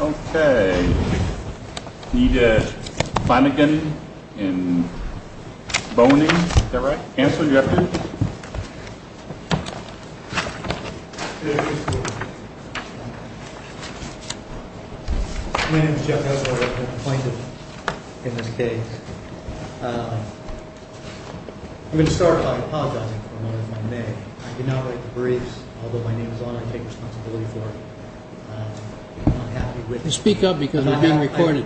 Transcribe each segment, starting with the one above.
Okay, we need Flanagan and Boehning. Is that right? Counsel, you have a minute? My name is Jeff Hasler. I'm a plaintiff in this case. I'm going to start by apologizing for my name. I did not write the briefs, although my name is on it. I take responsibility for it. Speak up because we're being recorded.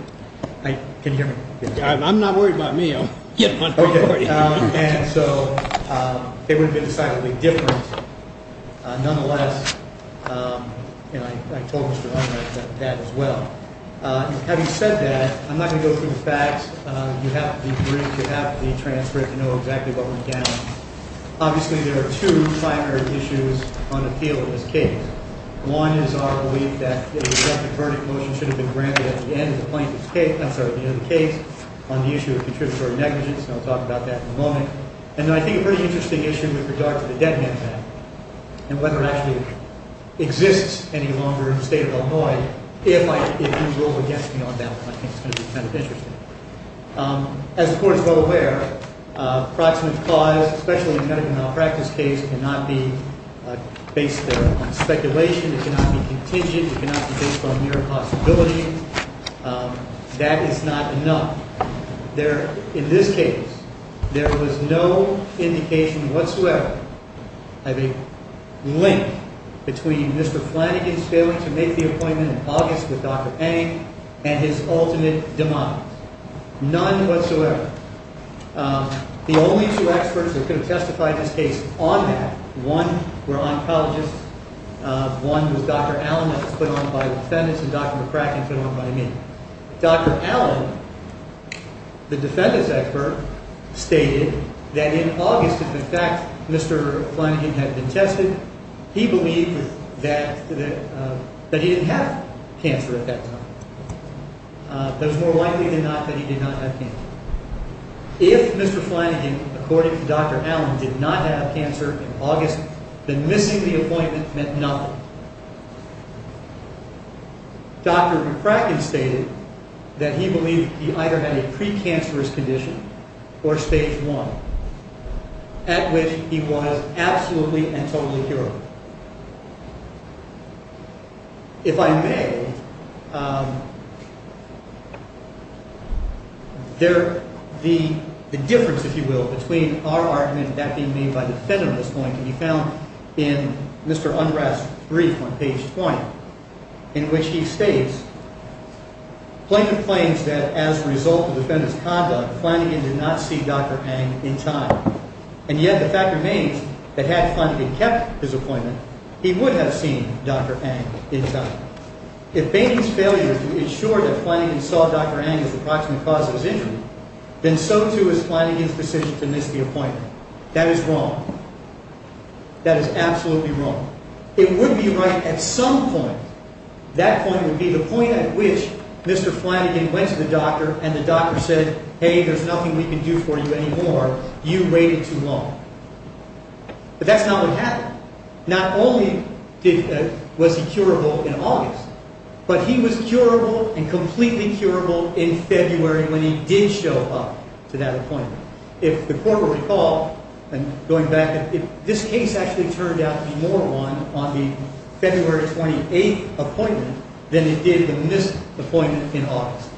Can you hear me? I'm not worried about me. Okay, so it would have been decidedly different. Nonetheless, I told Mr. Hummer that as well. Having said that, I'm not going to go through the facts. You have the briefs, you have the transcript, you know exactly what went down. Obviously, there are two primary issues on the field in this case. One is our belief that a de facto verdict motion should have been granted at the end of the plaintiff's case. I'm sorry, at the end of the case, on the issue of contributory negligence. And I'll talk about that in a moment. And I think a pretty interesting issue with regard to the Dead Hand Act and whether it actually exists any longer in the state of Illinois, if it moves over against me on that one, I think it's going to be kind of interesting. As the Court is well aware, proximate cause, especially in a medical malpractice case, cannot be based on speculation. It cannot be contingent. It cannot be based on mere possibility. That is not enough. In this case, there was no indication whatsoever of a link between Mr. Flanagan's failing to make the appointment in August with Dr. Pang and his ultimate demise. None whatsoever. The only two experts who could have testified in this case on that, one were oncologists, one was Dr. Allen that was put on by the defendants, and Dr. McCracken put on by me. Dr. Allen, the defendants' expert, stated that in August, if in fact Mr. Flanagan had been tested, he believed that he didn't have cancer at that time. It was more likely than not that he did not have cancer. If Mr. Flanagan, according to Dr. Allen, did not have cancer in August, then missing the appointment meant nothing. Dr. McCracken stated that he believed he either had a precancerous condition or stage one, at which he was absolutely and totally curable. If I may, the difference, if you will, between our argument and that being made by the defendant at this point can be found in Mr. Unrest's brief on page 20, in which he states, Flanagan claims that as a result of the defendant's conduct, Flanagan did not see Dr. Pang in time. And yet the fact remains that had Flanagan kept his appointment, he would have seen Dr. Pang in time. If Bainey's failure to ensure that Flanagan saw Dr. Pang as the proximate cause of his injury, then so too is Flanagan's decision to miss the appointment. That is wrong. That is absolutely wrong. It would be right at some point. That point would be the point at which Mr. Flanagan went to the doctor and the doctor said, hey, there's nothing we can do for you anymore. You waited too long. But that's not what happened. Not only was he curable in August, but he was curable and completely curable in February when he did show up to that appointment. If the court will recall, and going back, this case actually turned out to be more won on the February 28 appointment than it did the missed appointment in August.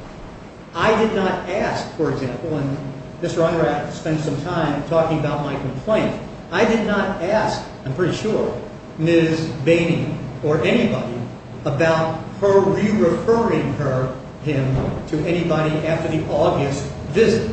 I did not ask, for example, and Mr. Unrest spent some time talking about my complaint. I did not ask, I'm pretty sure, Ms. Bainey or anybody about her re-referring him to anybody after the August visit.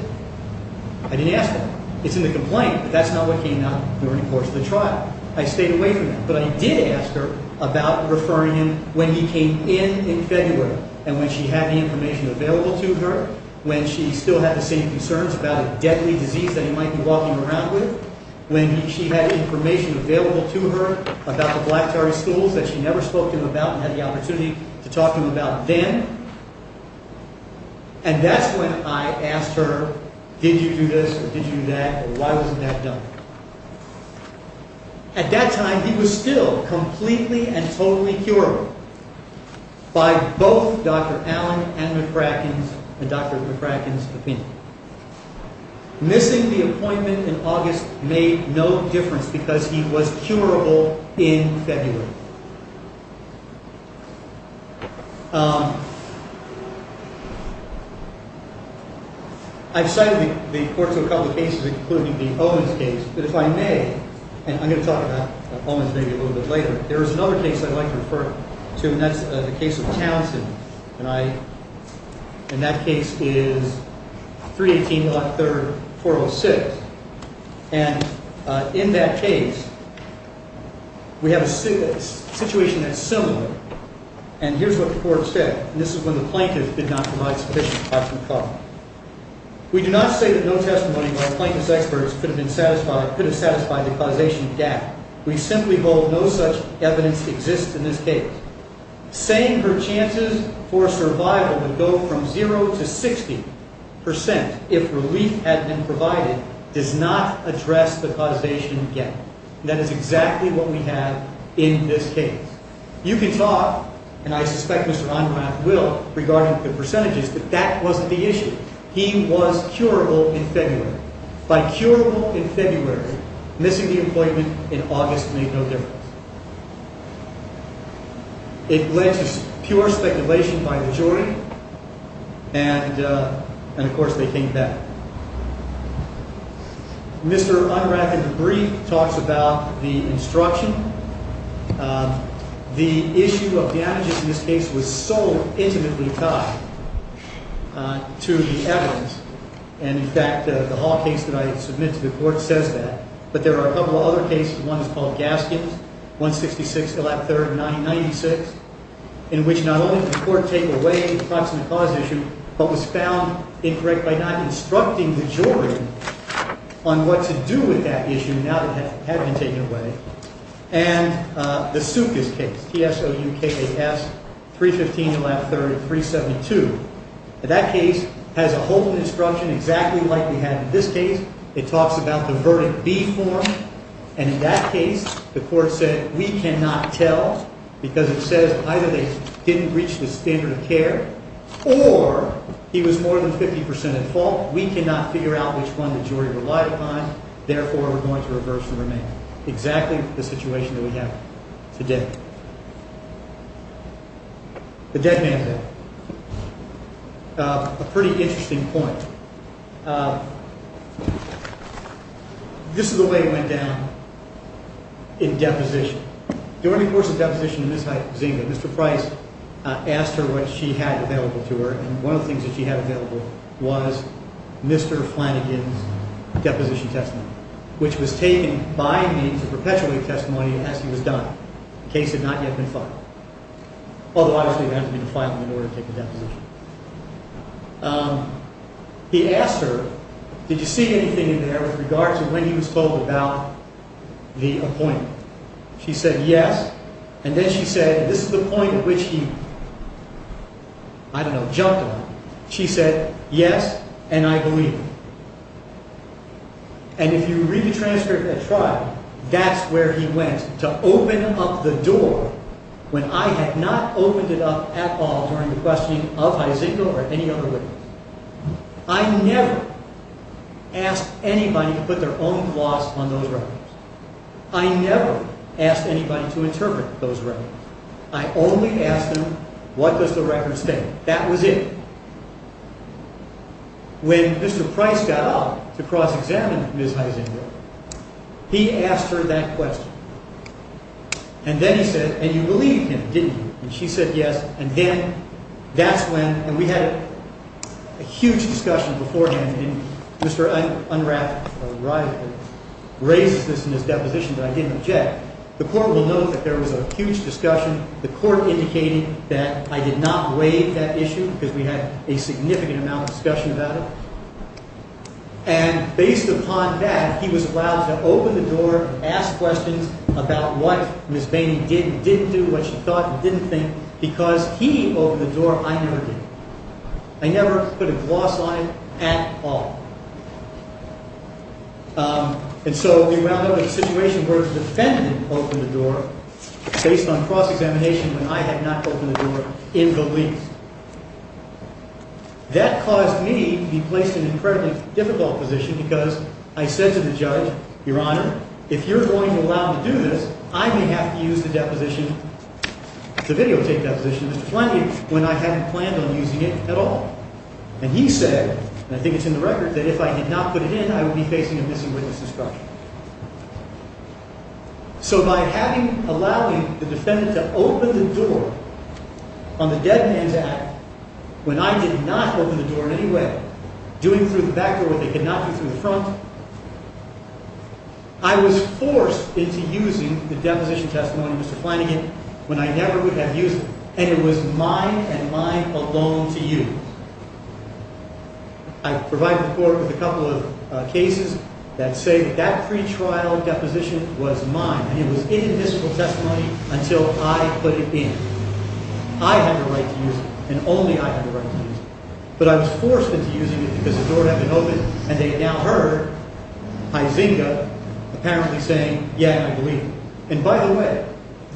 I didn't ask that. It's in the complaint, but that's not what came out during the course of the trial. I stayed away from that. But I did ask her about referring him when he came in in February and when she had the information available to her, when she still had the same concerns about a deadly disease that he might be walking around with, when she had information available to her about the Black Terry schools that she never spoke to him about and had the opportunity to talk to him about then. And that's when I asked her, did you do this or did you do that, or why wasn't that done? At that time, he was still completely and totally curable by both Dr. Allen and Dr. McCracken's opinion. Missing the appointment in August made no difference because he was curable in February. I've cited the court to a couple of cases, including the Owens case, but if I may, and I'm going to talk about Owens maybe a little bit later, there is another case I'd like to refer to, and that's the case of Townsend. And that case is 318.03.406. And in that case, we have a situation that's similar. And here's what the court said, and this is when the plaintiff did not provide sufficient proof. We do not say that no testimony by plaintiff's experts could have satisfied the causation of death. We simply hold no such evidence exists in this case. Saying her chances for survival would go from zero to 60 percent if relief had been provided does not address the causation yet. That is exactly what we have in this case. You can talk, and I suspect Mr. Onrath will, regarding the percentages, but that wasn't the issue. He was curable in February. By curable in February, missing the appointment in August made no difference. It led to pure speculation by the jury, and, of course, they came back. Mr. Onrath, in a brief, talks about the instruction. The issue of the adage in this case was so intimately tied to the evidence, and, in fact, the Hall case that I submit to the court says that. But there are a couple of other cases. One is called Gaskins, 166, and lap 30, 1996, in which not only did the court take away the proximate cause issue, but was found incorrect by not instructing the jury on what to do with that issue now that it had been taken away. And the Soukis case, T-S-O-U-K-A-S, 315, and lap 30, 372. That case has a whole instruction exactly like we have in this case. It talks about the Verdict B form, and, in that case, the court said we cannot tell because it says either they didn't reach the standard of care or he was more than 50 percent at fault. We cannot figure out which one the jury relied upon. Therefore, we're going to reverse the remainder. Exactly the situation that we have today. The dead man bill. A pretty interesting point. This is the way it went down in deposition. During the course of deposition in Miss Heisinga, Mr. Price asked her what she had available to her, and one of the things that she had available was Mr. Flanagan's deposition testimony, which was taken by me to perpetuate testimony as he was dying. The case had not yet been filed. Although, obviously, there hasn't been a filing in order to take a deposition. He asked her, did you see anything in there with regard to when he was told about the appointment? She said, yes, and then she said, this is the point at which he, I don't know, jumped on it. She said, yes, and I believe him. And if you read the transcript at trial, that's where he went to open up the door when I had not opened it up at all during the questioning of Heisinga or any other witness. I never asked anybody to put their own gloss on those records. I never asked anybody to interpret those records. I only asked them, what does the record say? That was it. When Mr. Price got up to cross-examine Ms. Heisinga, he asked her that question. And then he said, and you believed him, didn't you? And she said, yes, and then that's when, and we had a huge discussion beforehand, and Mr. Unrath, our rival, raises this in his deposition that I didn't object. The Court will note that there was a huge discussion. The Court indicated that I did not waive that issue because we had a significant amount of discussion about it. And based upon that, he was allowed to open the door and ask questions about what Ms. Bainey did and didn't do, what she thought and didn't think, because he opened the door, I never did. I never put a gloss on it at all. And so we wound up in a situation where the defendant opened the door, based on cross-examination, when I had not opened the door in the least. That caused me to be placed in an incredibly difficult position because I said to the judge, Your Honor, if you're going to allow me to do this, I may have to use the deposition, the videotape deposition of Mr. Pliny, when I hadn't planned on using it at all. And he said, and I think it's in the record, that if I did not put it in, I would be facing a missing-witness instruction. So by allowing the defendant to open the door on the dead man's act, when I did not open the door in any way, doing it through the back door where they could not do it through the front, I was forced into using the deposition testimony of Mr. Pliny when I never would have used it. And it was mine and mine alone to use. I provided the court with a couple of cases that say that that pretrial deposition was mine, and it was in the mystical testimony until I put it in. I had the right to use it, and only I had the right to use it. But I was forced into using it because the door had been opened, and they had now heard Huizinga apparently saying, Yeah, I believe you. And by the way,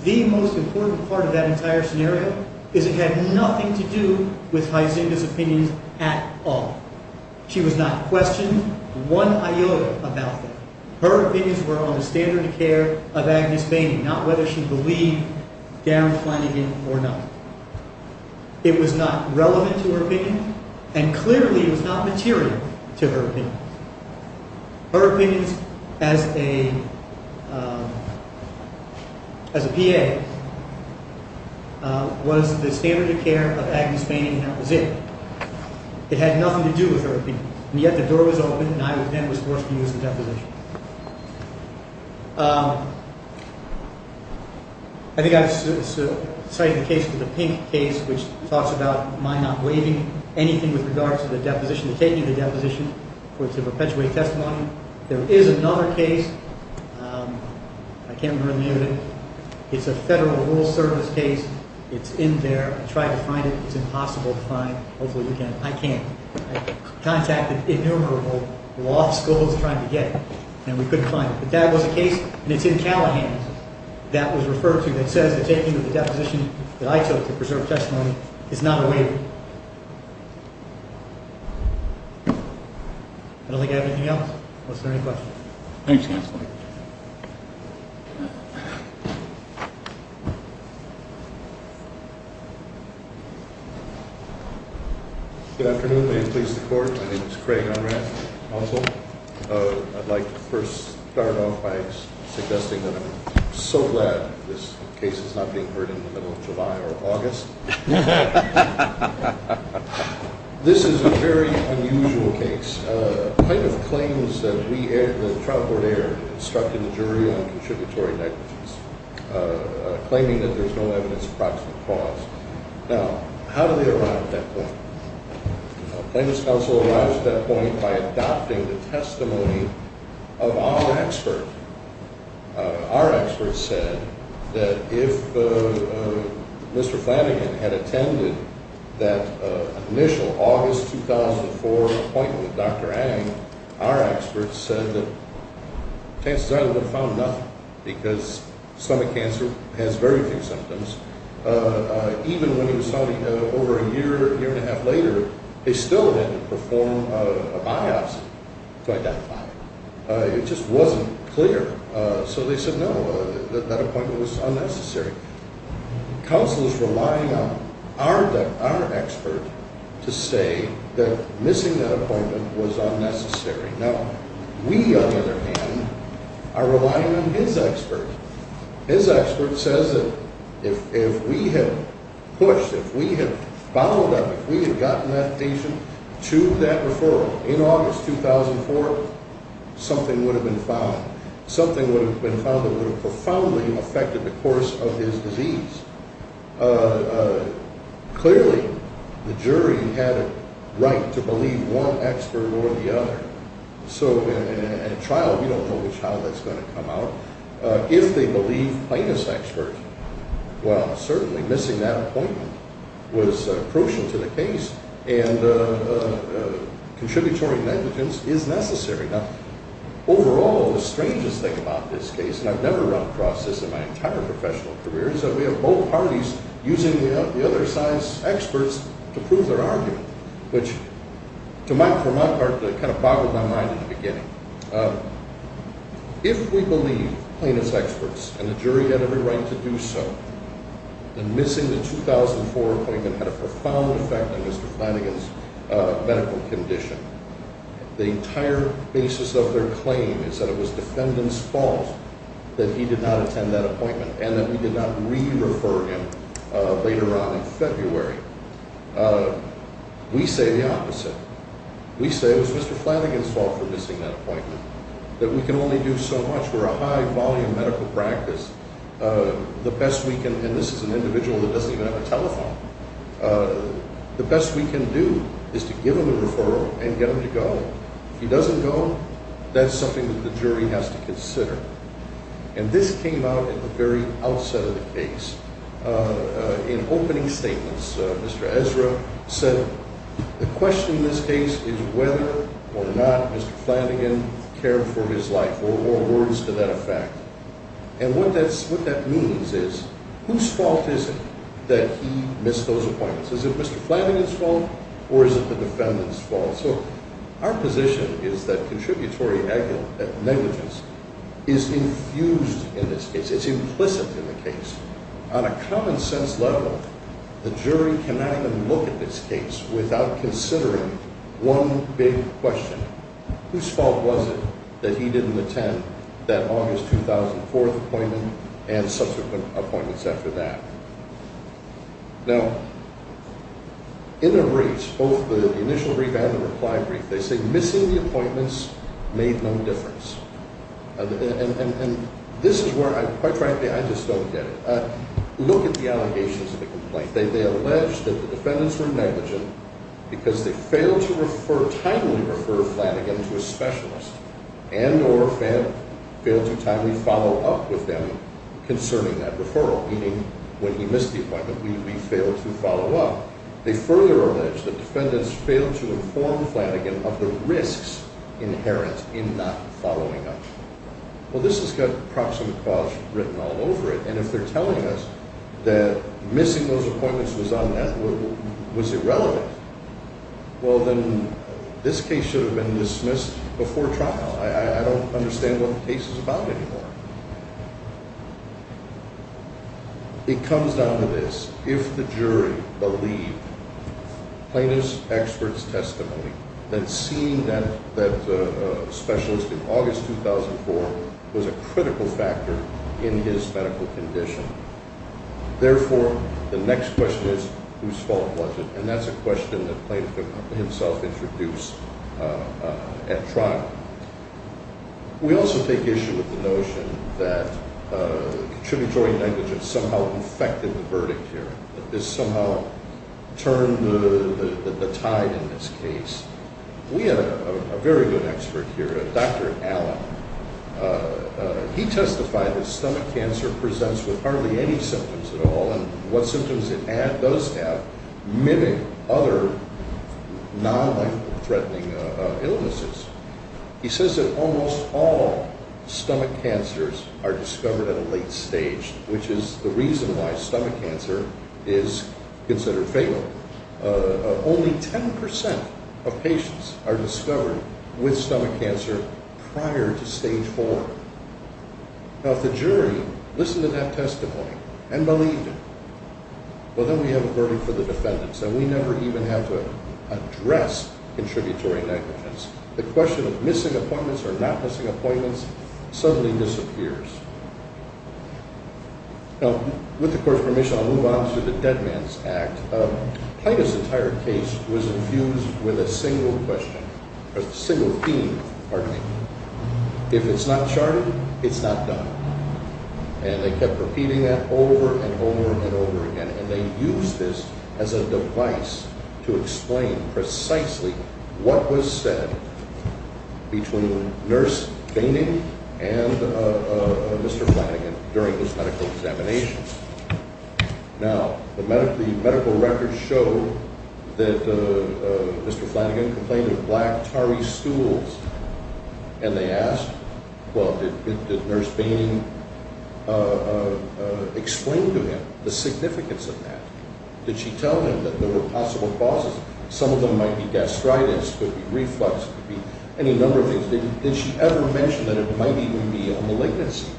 the most important part of that entire scenario is it had nothing to do with Huizinga's opinions at all. She was not questioned one iota about that. Her opinions were on the standard of care of Agnes Bainey, not whether she believed Darren Flanagan or not. It was not relevant to her opinion, and clearly it was not material to her opinion. Her opinions as a PA was the standard of care of Agnes Bainey, and that was it. It had nothing to do with her opinion. And yet the door was open, and I then was forced to use the deposition. I think I've cited the case with the pink case, which talks about my not waiving anything with regard to the deposition, the taking of the deposition for it to perpetuate testimony. There is another case. I can't remember the name of it. It's a Federal Rural Service case. It's in there. I tried to find it. It's impossible to find. Hopefully you can. I can't. I contacted innumerable law schools trying to get it, and we couldn't find it. But that was a case, and it's in Callahan's that was referred to that says the taking of the deposition that I took to preserve testimony is not a waiver. I don't think I have anything else, unless there are any questions. Thanks, Counselor. Good afternoon. May it please the Court. My name is Craig Unrad, also. I'd like to first start off by suggesting that I'm so glad this case is not being heard in the middle of July or August. This is a very unusual case. Plaintiff claims that the trial court erred and instructed the jury on contributory negligence, claiming that there's no evidence of proximate cause. Now, how do they arrive at that point? Plaintiff's counsel arrives at that point by adopting the testimony of our expert. Our expert said that if Mr. Flanagan had attended that initial August 2004 appointment with Dr. Ang, our expert said that chances are they would have found nothing because stomach cancer has very few symptoms. Even when he was talking over a year, year and a half later, they still had to perform a biopsy to identify it. It just wasn't clear. So they said, no, that appointment was unnecessary. Counsel is relying on our expert to say that missing that appointment was unnecessary. Now, we, on the other hand, are relying on his expert. His expert says that if we had pushed, if we had bowled up, if we had gotten that patient to that referral in August 2004, something would have been found. Something would have been found that would have profoundly affected the course of his disease. Clearly, the jury had a right to believe one expert or the other. So in a trial, we don't know which trial that's going to come out. If they believe plaintiff's expert, well, certainly missing that appointment was crucial to the case, and contributory negligence is necessary. Now, overall, the strangest thing about this case, and I've never run across this in my entire professional career, is that we have both parties using the other science experts to prove their argument, which, for my part, kind of boggled my mind in the beginning. If we believe plaintiff's experts and the jury had every right to do so, then missing the 2004 appointment had a profound effect on Mr. Flanagan's medical condition. The entire basis of their claim is that it was defendant's fault that he did not attend that appointment and that we did not re-refer him later on in February. We say the opposite. We say it was Mr. Flanagan's fault for missing that appointment, that we can only do so much. We're a high-volume medical practice. The best we can, and this is an individual that doesn't even have a telephone, the best we can do is to give him a referral and get him to go. If he doesn't go, that's something that the jury has to consider. In opening statements, Mr. Ezra said the question in this case is whether or not Mr. Flanagan cared for his life, or words to that effect. And what that means is whose fault is it that he missed those appointments? Is it Mr. Flanagan's fault or is it the defendant's fault? So our position is that contributory negligence is infused in this case. It's implicit in the case. On a common-sense level, the jury cannot even look at this case without considering one big question. Whose fault was it that he didn't attend that August 2004 appointment and subsequent appointments after that? Now, in the briefs, both the initial brief and the reply brief, they say missing the appointments made no difference. And this is where, quite frankly, I just don't get it. Look at the allegations of the complaint. They allege that the defendants were negligent because they failed to timely refer Flanagan to a specialist and or failed to timely follow up with them concerning that referral, meaning when he missed the appointment, we failed to follow up. They further allege that defendants failed to inform Flanagan of the risks inherent in not following up. Well, this has got proximate cause written all over it, and if they're telling us that missing those appointments was irrelevant, well, then this case should have been dismissed before trial. I don't understand what the case is about anymore. It comes down to this. If the jury believed Plano's expert's testimony, then seeing that specialist in August 2004 was a critical factor in his medical condition. Therefore, the next question is, whose fault was it? And that's a question that Plano himself introduced at trial. We also take issue with the notion that contributing negligence somehow infected the verdict here, that this somehow turned the tide in this case. We have a very good expert here, Dr. Allen. He testified that stomach cancer presents with hardly any symptoms at all, and what symptoms it does have mimic other non-life-threatening illnesses. He says that almost all stomach cancers are discovered at a late stage, which is the reason why stomach cancer is considered fatal. Only 10 percent of patients are discovered with stomach cancer prior to stage four. Now, if the jury listened to that testimony and believed it, well, then we have a verdict for the defendants, and we never even have to address contributory negligence. The question of missing appointments or not missing appointments suddenly disappears. Now, with the Court's permission, I'll move on to the Dead Man's Act. Plano's entire case was infused with a single question, a single theme, pardon me. If it's not charted, it's not done. And they kept repeating that over and over and over again, and they used this as a device to explain precisely what was said between Nurse Fainting and Mr. Flanagan during his medical examination. Now, the medical records show that Mr. Flanagan complained of black, tarry stools. And they asked, well, did Nurse Fainting explain to him the significance of that? Did she tell him that there were possible causes? Some of them might be gastritis, could be reflux, could be any number of things. Did she ever mention that it might even be a malignancy?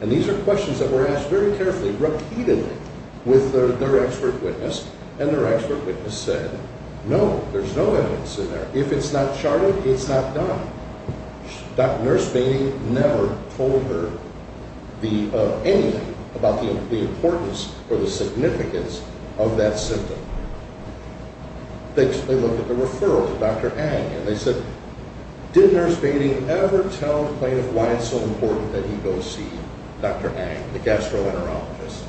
And these are questions that were asked very carefully, repeatedly, with their expert witness, and their expert witness said, no, there's no evidence in there. If it's not charted, it's not done. Nurse Fainting never told her anything about the importance or the significance of that symptom. They looked at the referral to Dr. Ang, and they said, did Nurse Fainting ever tell the plaintiff why it's so important that he go see Dr. Ang, the gastroenterologist?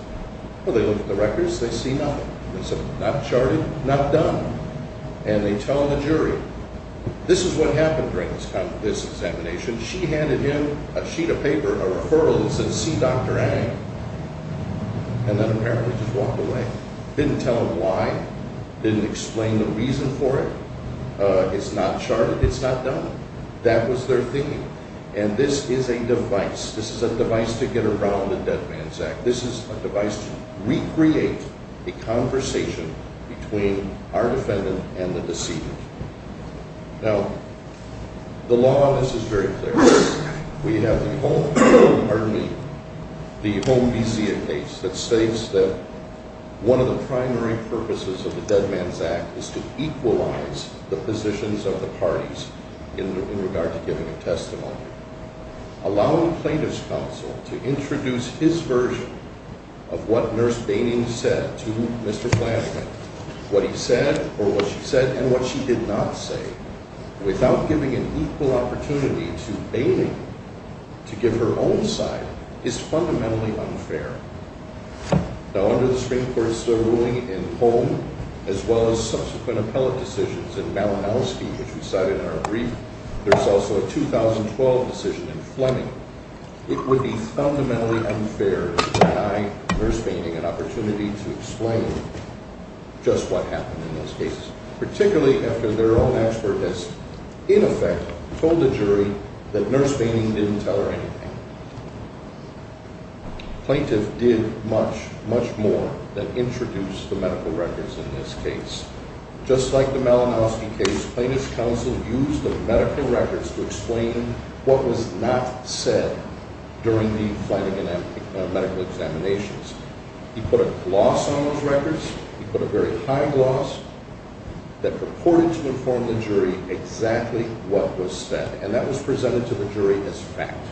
Well, they looked at the records, they see nothing. They said, not charted, not done. And they tell the jury, this is what happened during this examination. She handed him a sheet of paper, a referral that said, see Dr. Ang, and then apparently just walked away. Didn't tell him why. Didn't explain the reason for it. It's not charted. It's not done. That was their thing. And this is a device. This is a device to get around the Dead Man's Act. This is a device to recreate a conversation between our defendant and the deceiver. Now, the law on this is very clear. We have the home vizia case that states that one of the primary purposes of the Dead Man's Act is to equalize the positions of the parties in regard to giving a testimony. Allowing plaintiff's counsel to introduce his version of what Nurse Fainting said to Mr. Flanagan, what he said, or what she said, and what she did not say, without giving an equal opportunity to Fainting to give her own side, is fundamentally unfair. Now, under the Supreme Court's ruling in Holm, as well as subsequent appellate decisions in Malinowski, which we cited in our brief, there's also a 2012 decision in Fleming. It would be fundamentally unfair to deny Nurse Fainting an opportunity to explain just what happened in those cases, particularly after their own expert has, in effect, told the jury that Nurse Fainting didn't tell her anything. Plaintiff did much, much more than introduce the medical records in this case. Just like the Malinowski case, plaintiff's counsel used the medical records to explain what was not said during the Flanagan medical examinations. He put a gloss on those records, he put a very high gloss, that purported to inform the jury exactly what was said, and that was presented to the jury as fact.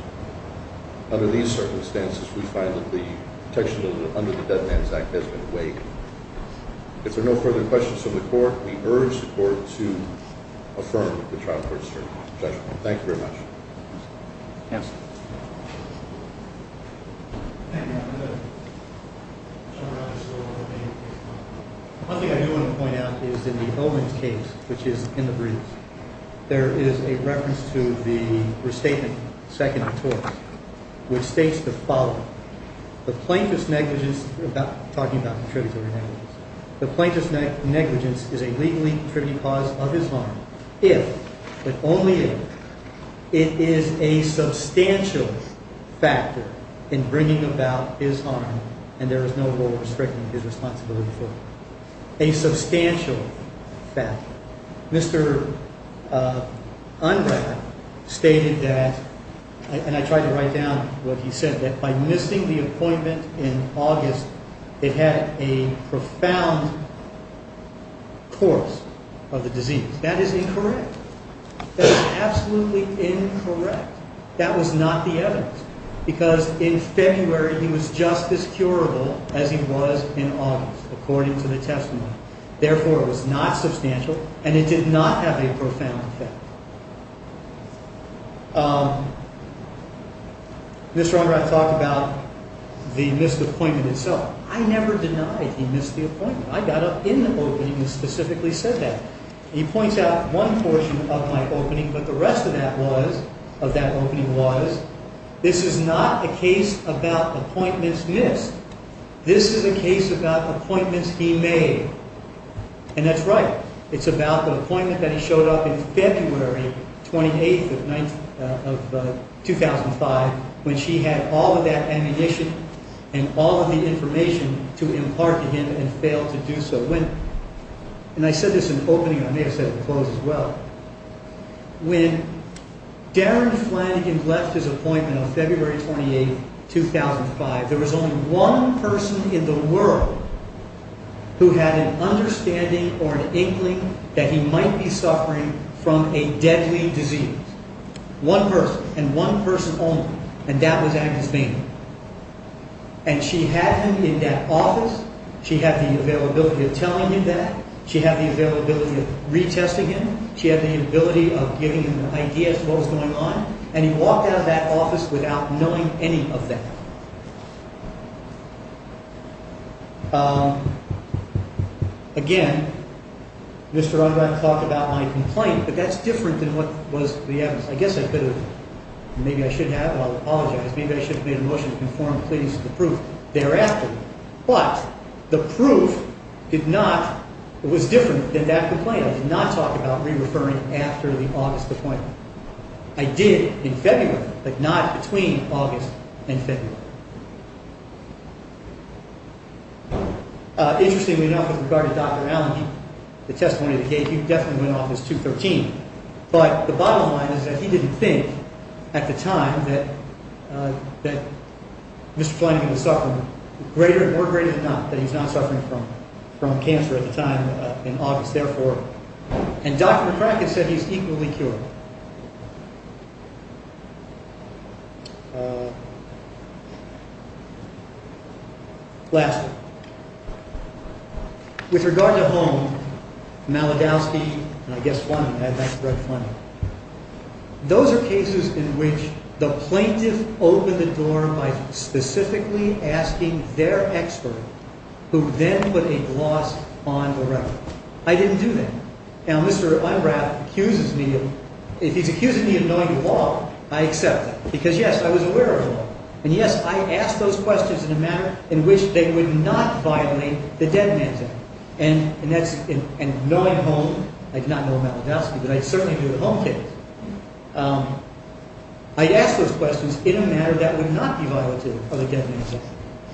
Under these circumstances, we find that the protection under the Dead Man's Act has been waived. If there are no further questions from the court, we urge the court to affirm the trial court's judgment. Thank you very much. One thing I do want to point out is in the Olin case, which is in the brief, there is a reference to the restatement seconded to us, which states the following. Talking about contributory negligence. The plaintiff's negligence is a legally contributing cause of his harm if, but only if, it is a substantial factor in bringing about his harm and there is no rule restricting his responsibility for it. A substantial factor. Mr. Ungrad stated that, and I tried to write down what he said, that by missing the appointment in August, it had a profound course of the disease. That is incorrect. That is absolutely incorrect. That was not the evidence. Because in February, he was just as curable as he was in August, according to the testimony. Therefore, it was not substantial and it did not have a profound effect. Mr. Ungrad talked about the missed appointment itself. I never denied he missed the appointment. I got up in the opening and specifically said that. He points out one portion of my opening, but the rest of that opening was, this is not a case about appointments missed. This is a case about appointments he made. And that's right. It's about the appointment that he showed up in February 28th of 2005 when she had all of that ammunition and all of the information to impart to him and failed to do so. And I said this in opening. I may have said it in close as well. When Darren Flanagan left his appointment on February 28th, 2005, there was only one person in the world who had an understanding or an inkling that he might be suffering from a deadly disease. One person. And one person only. And that was Agnes Boehner. And she had him in that office. She had the availability of telling him that. She had the availability of retesting him. She had the ability of giving him ideas of what was going on. And he walked out of that office without knowing any of that. Again, Mr. Ungrad talked about my complaint, but that's different than what was the evidence. Maybe I should have. Well, I apologize. Maybe I should have made a motion to conform to pleadings of the proof thereafter. But the proof was different than that complaint. I did not talk about re-referring after the August appointment. I did in February, but not between August and February. Interestingly enough, with regard to Dr. Allen, the testimony that he gave, he definitely went off as 213. But the bottom line is that he didn't think at the time that Mr. Flanagan was suffering, more greater than not, that he was not suffering from cancer at the time in August. Therefore, and Dr. McCracken said he's equally cured. Lastly. With regard to Holmes, Malodowsky, and I guess one, I think Fred Flanagan. Those are cases in which the plaintiff opened the door by specifically asking their expert, who then put a gloss on the record. I didn't do that. Now, Mr. Ungrad accuses me of, if he's accusing me of knowing the law, I accept that. Because yes, I was aware of the law. And yes, I asked those questions in a manner in which they would not violate the dead man's act. And knowing Holmes, I did not know Malodowsky, but I certainly knew the Holmes case. I asked those questions in a manner that would not be violative of the dead man's act.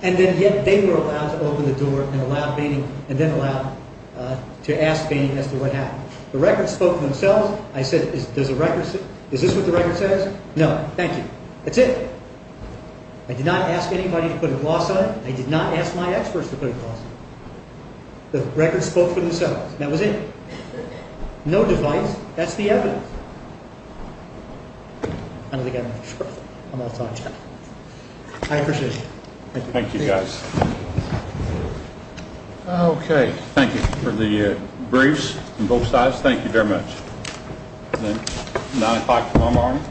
And then yet they were allowed to open the door and allow Baining, and then allowed to ask Baining as to what happened. The records spoke for themselves. I said, is this what the record says? No. Thank you. That's it. I did not ask anybody to put a gloss on it. I did not ask my experts to put a gloss on it. The records spoke for themselves. That was it. No device. That's the evidence. I don't think I have enough time. I appreciate it. Thank you, guys. Okay. Thank you for the briefs on both sides. Thank you very much. 9 o'clock tomorrow morning. All rise.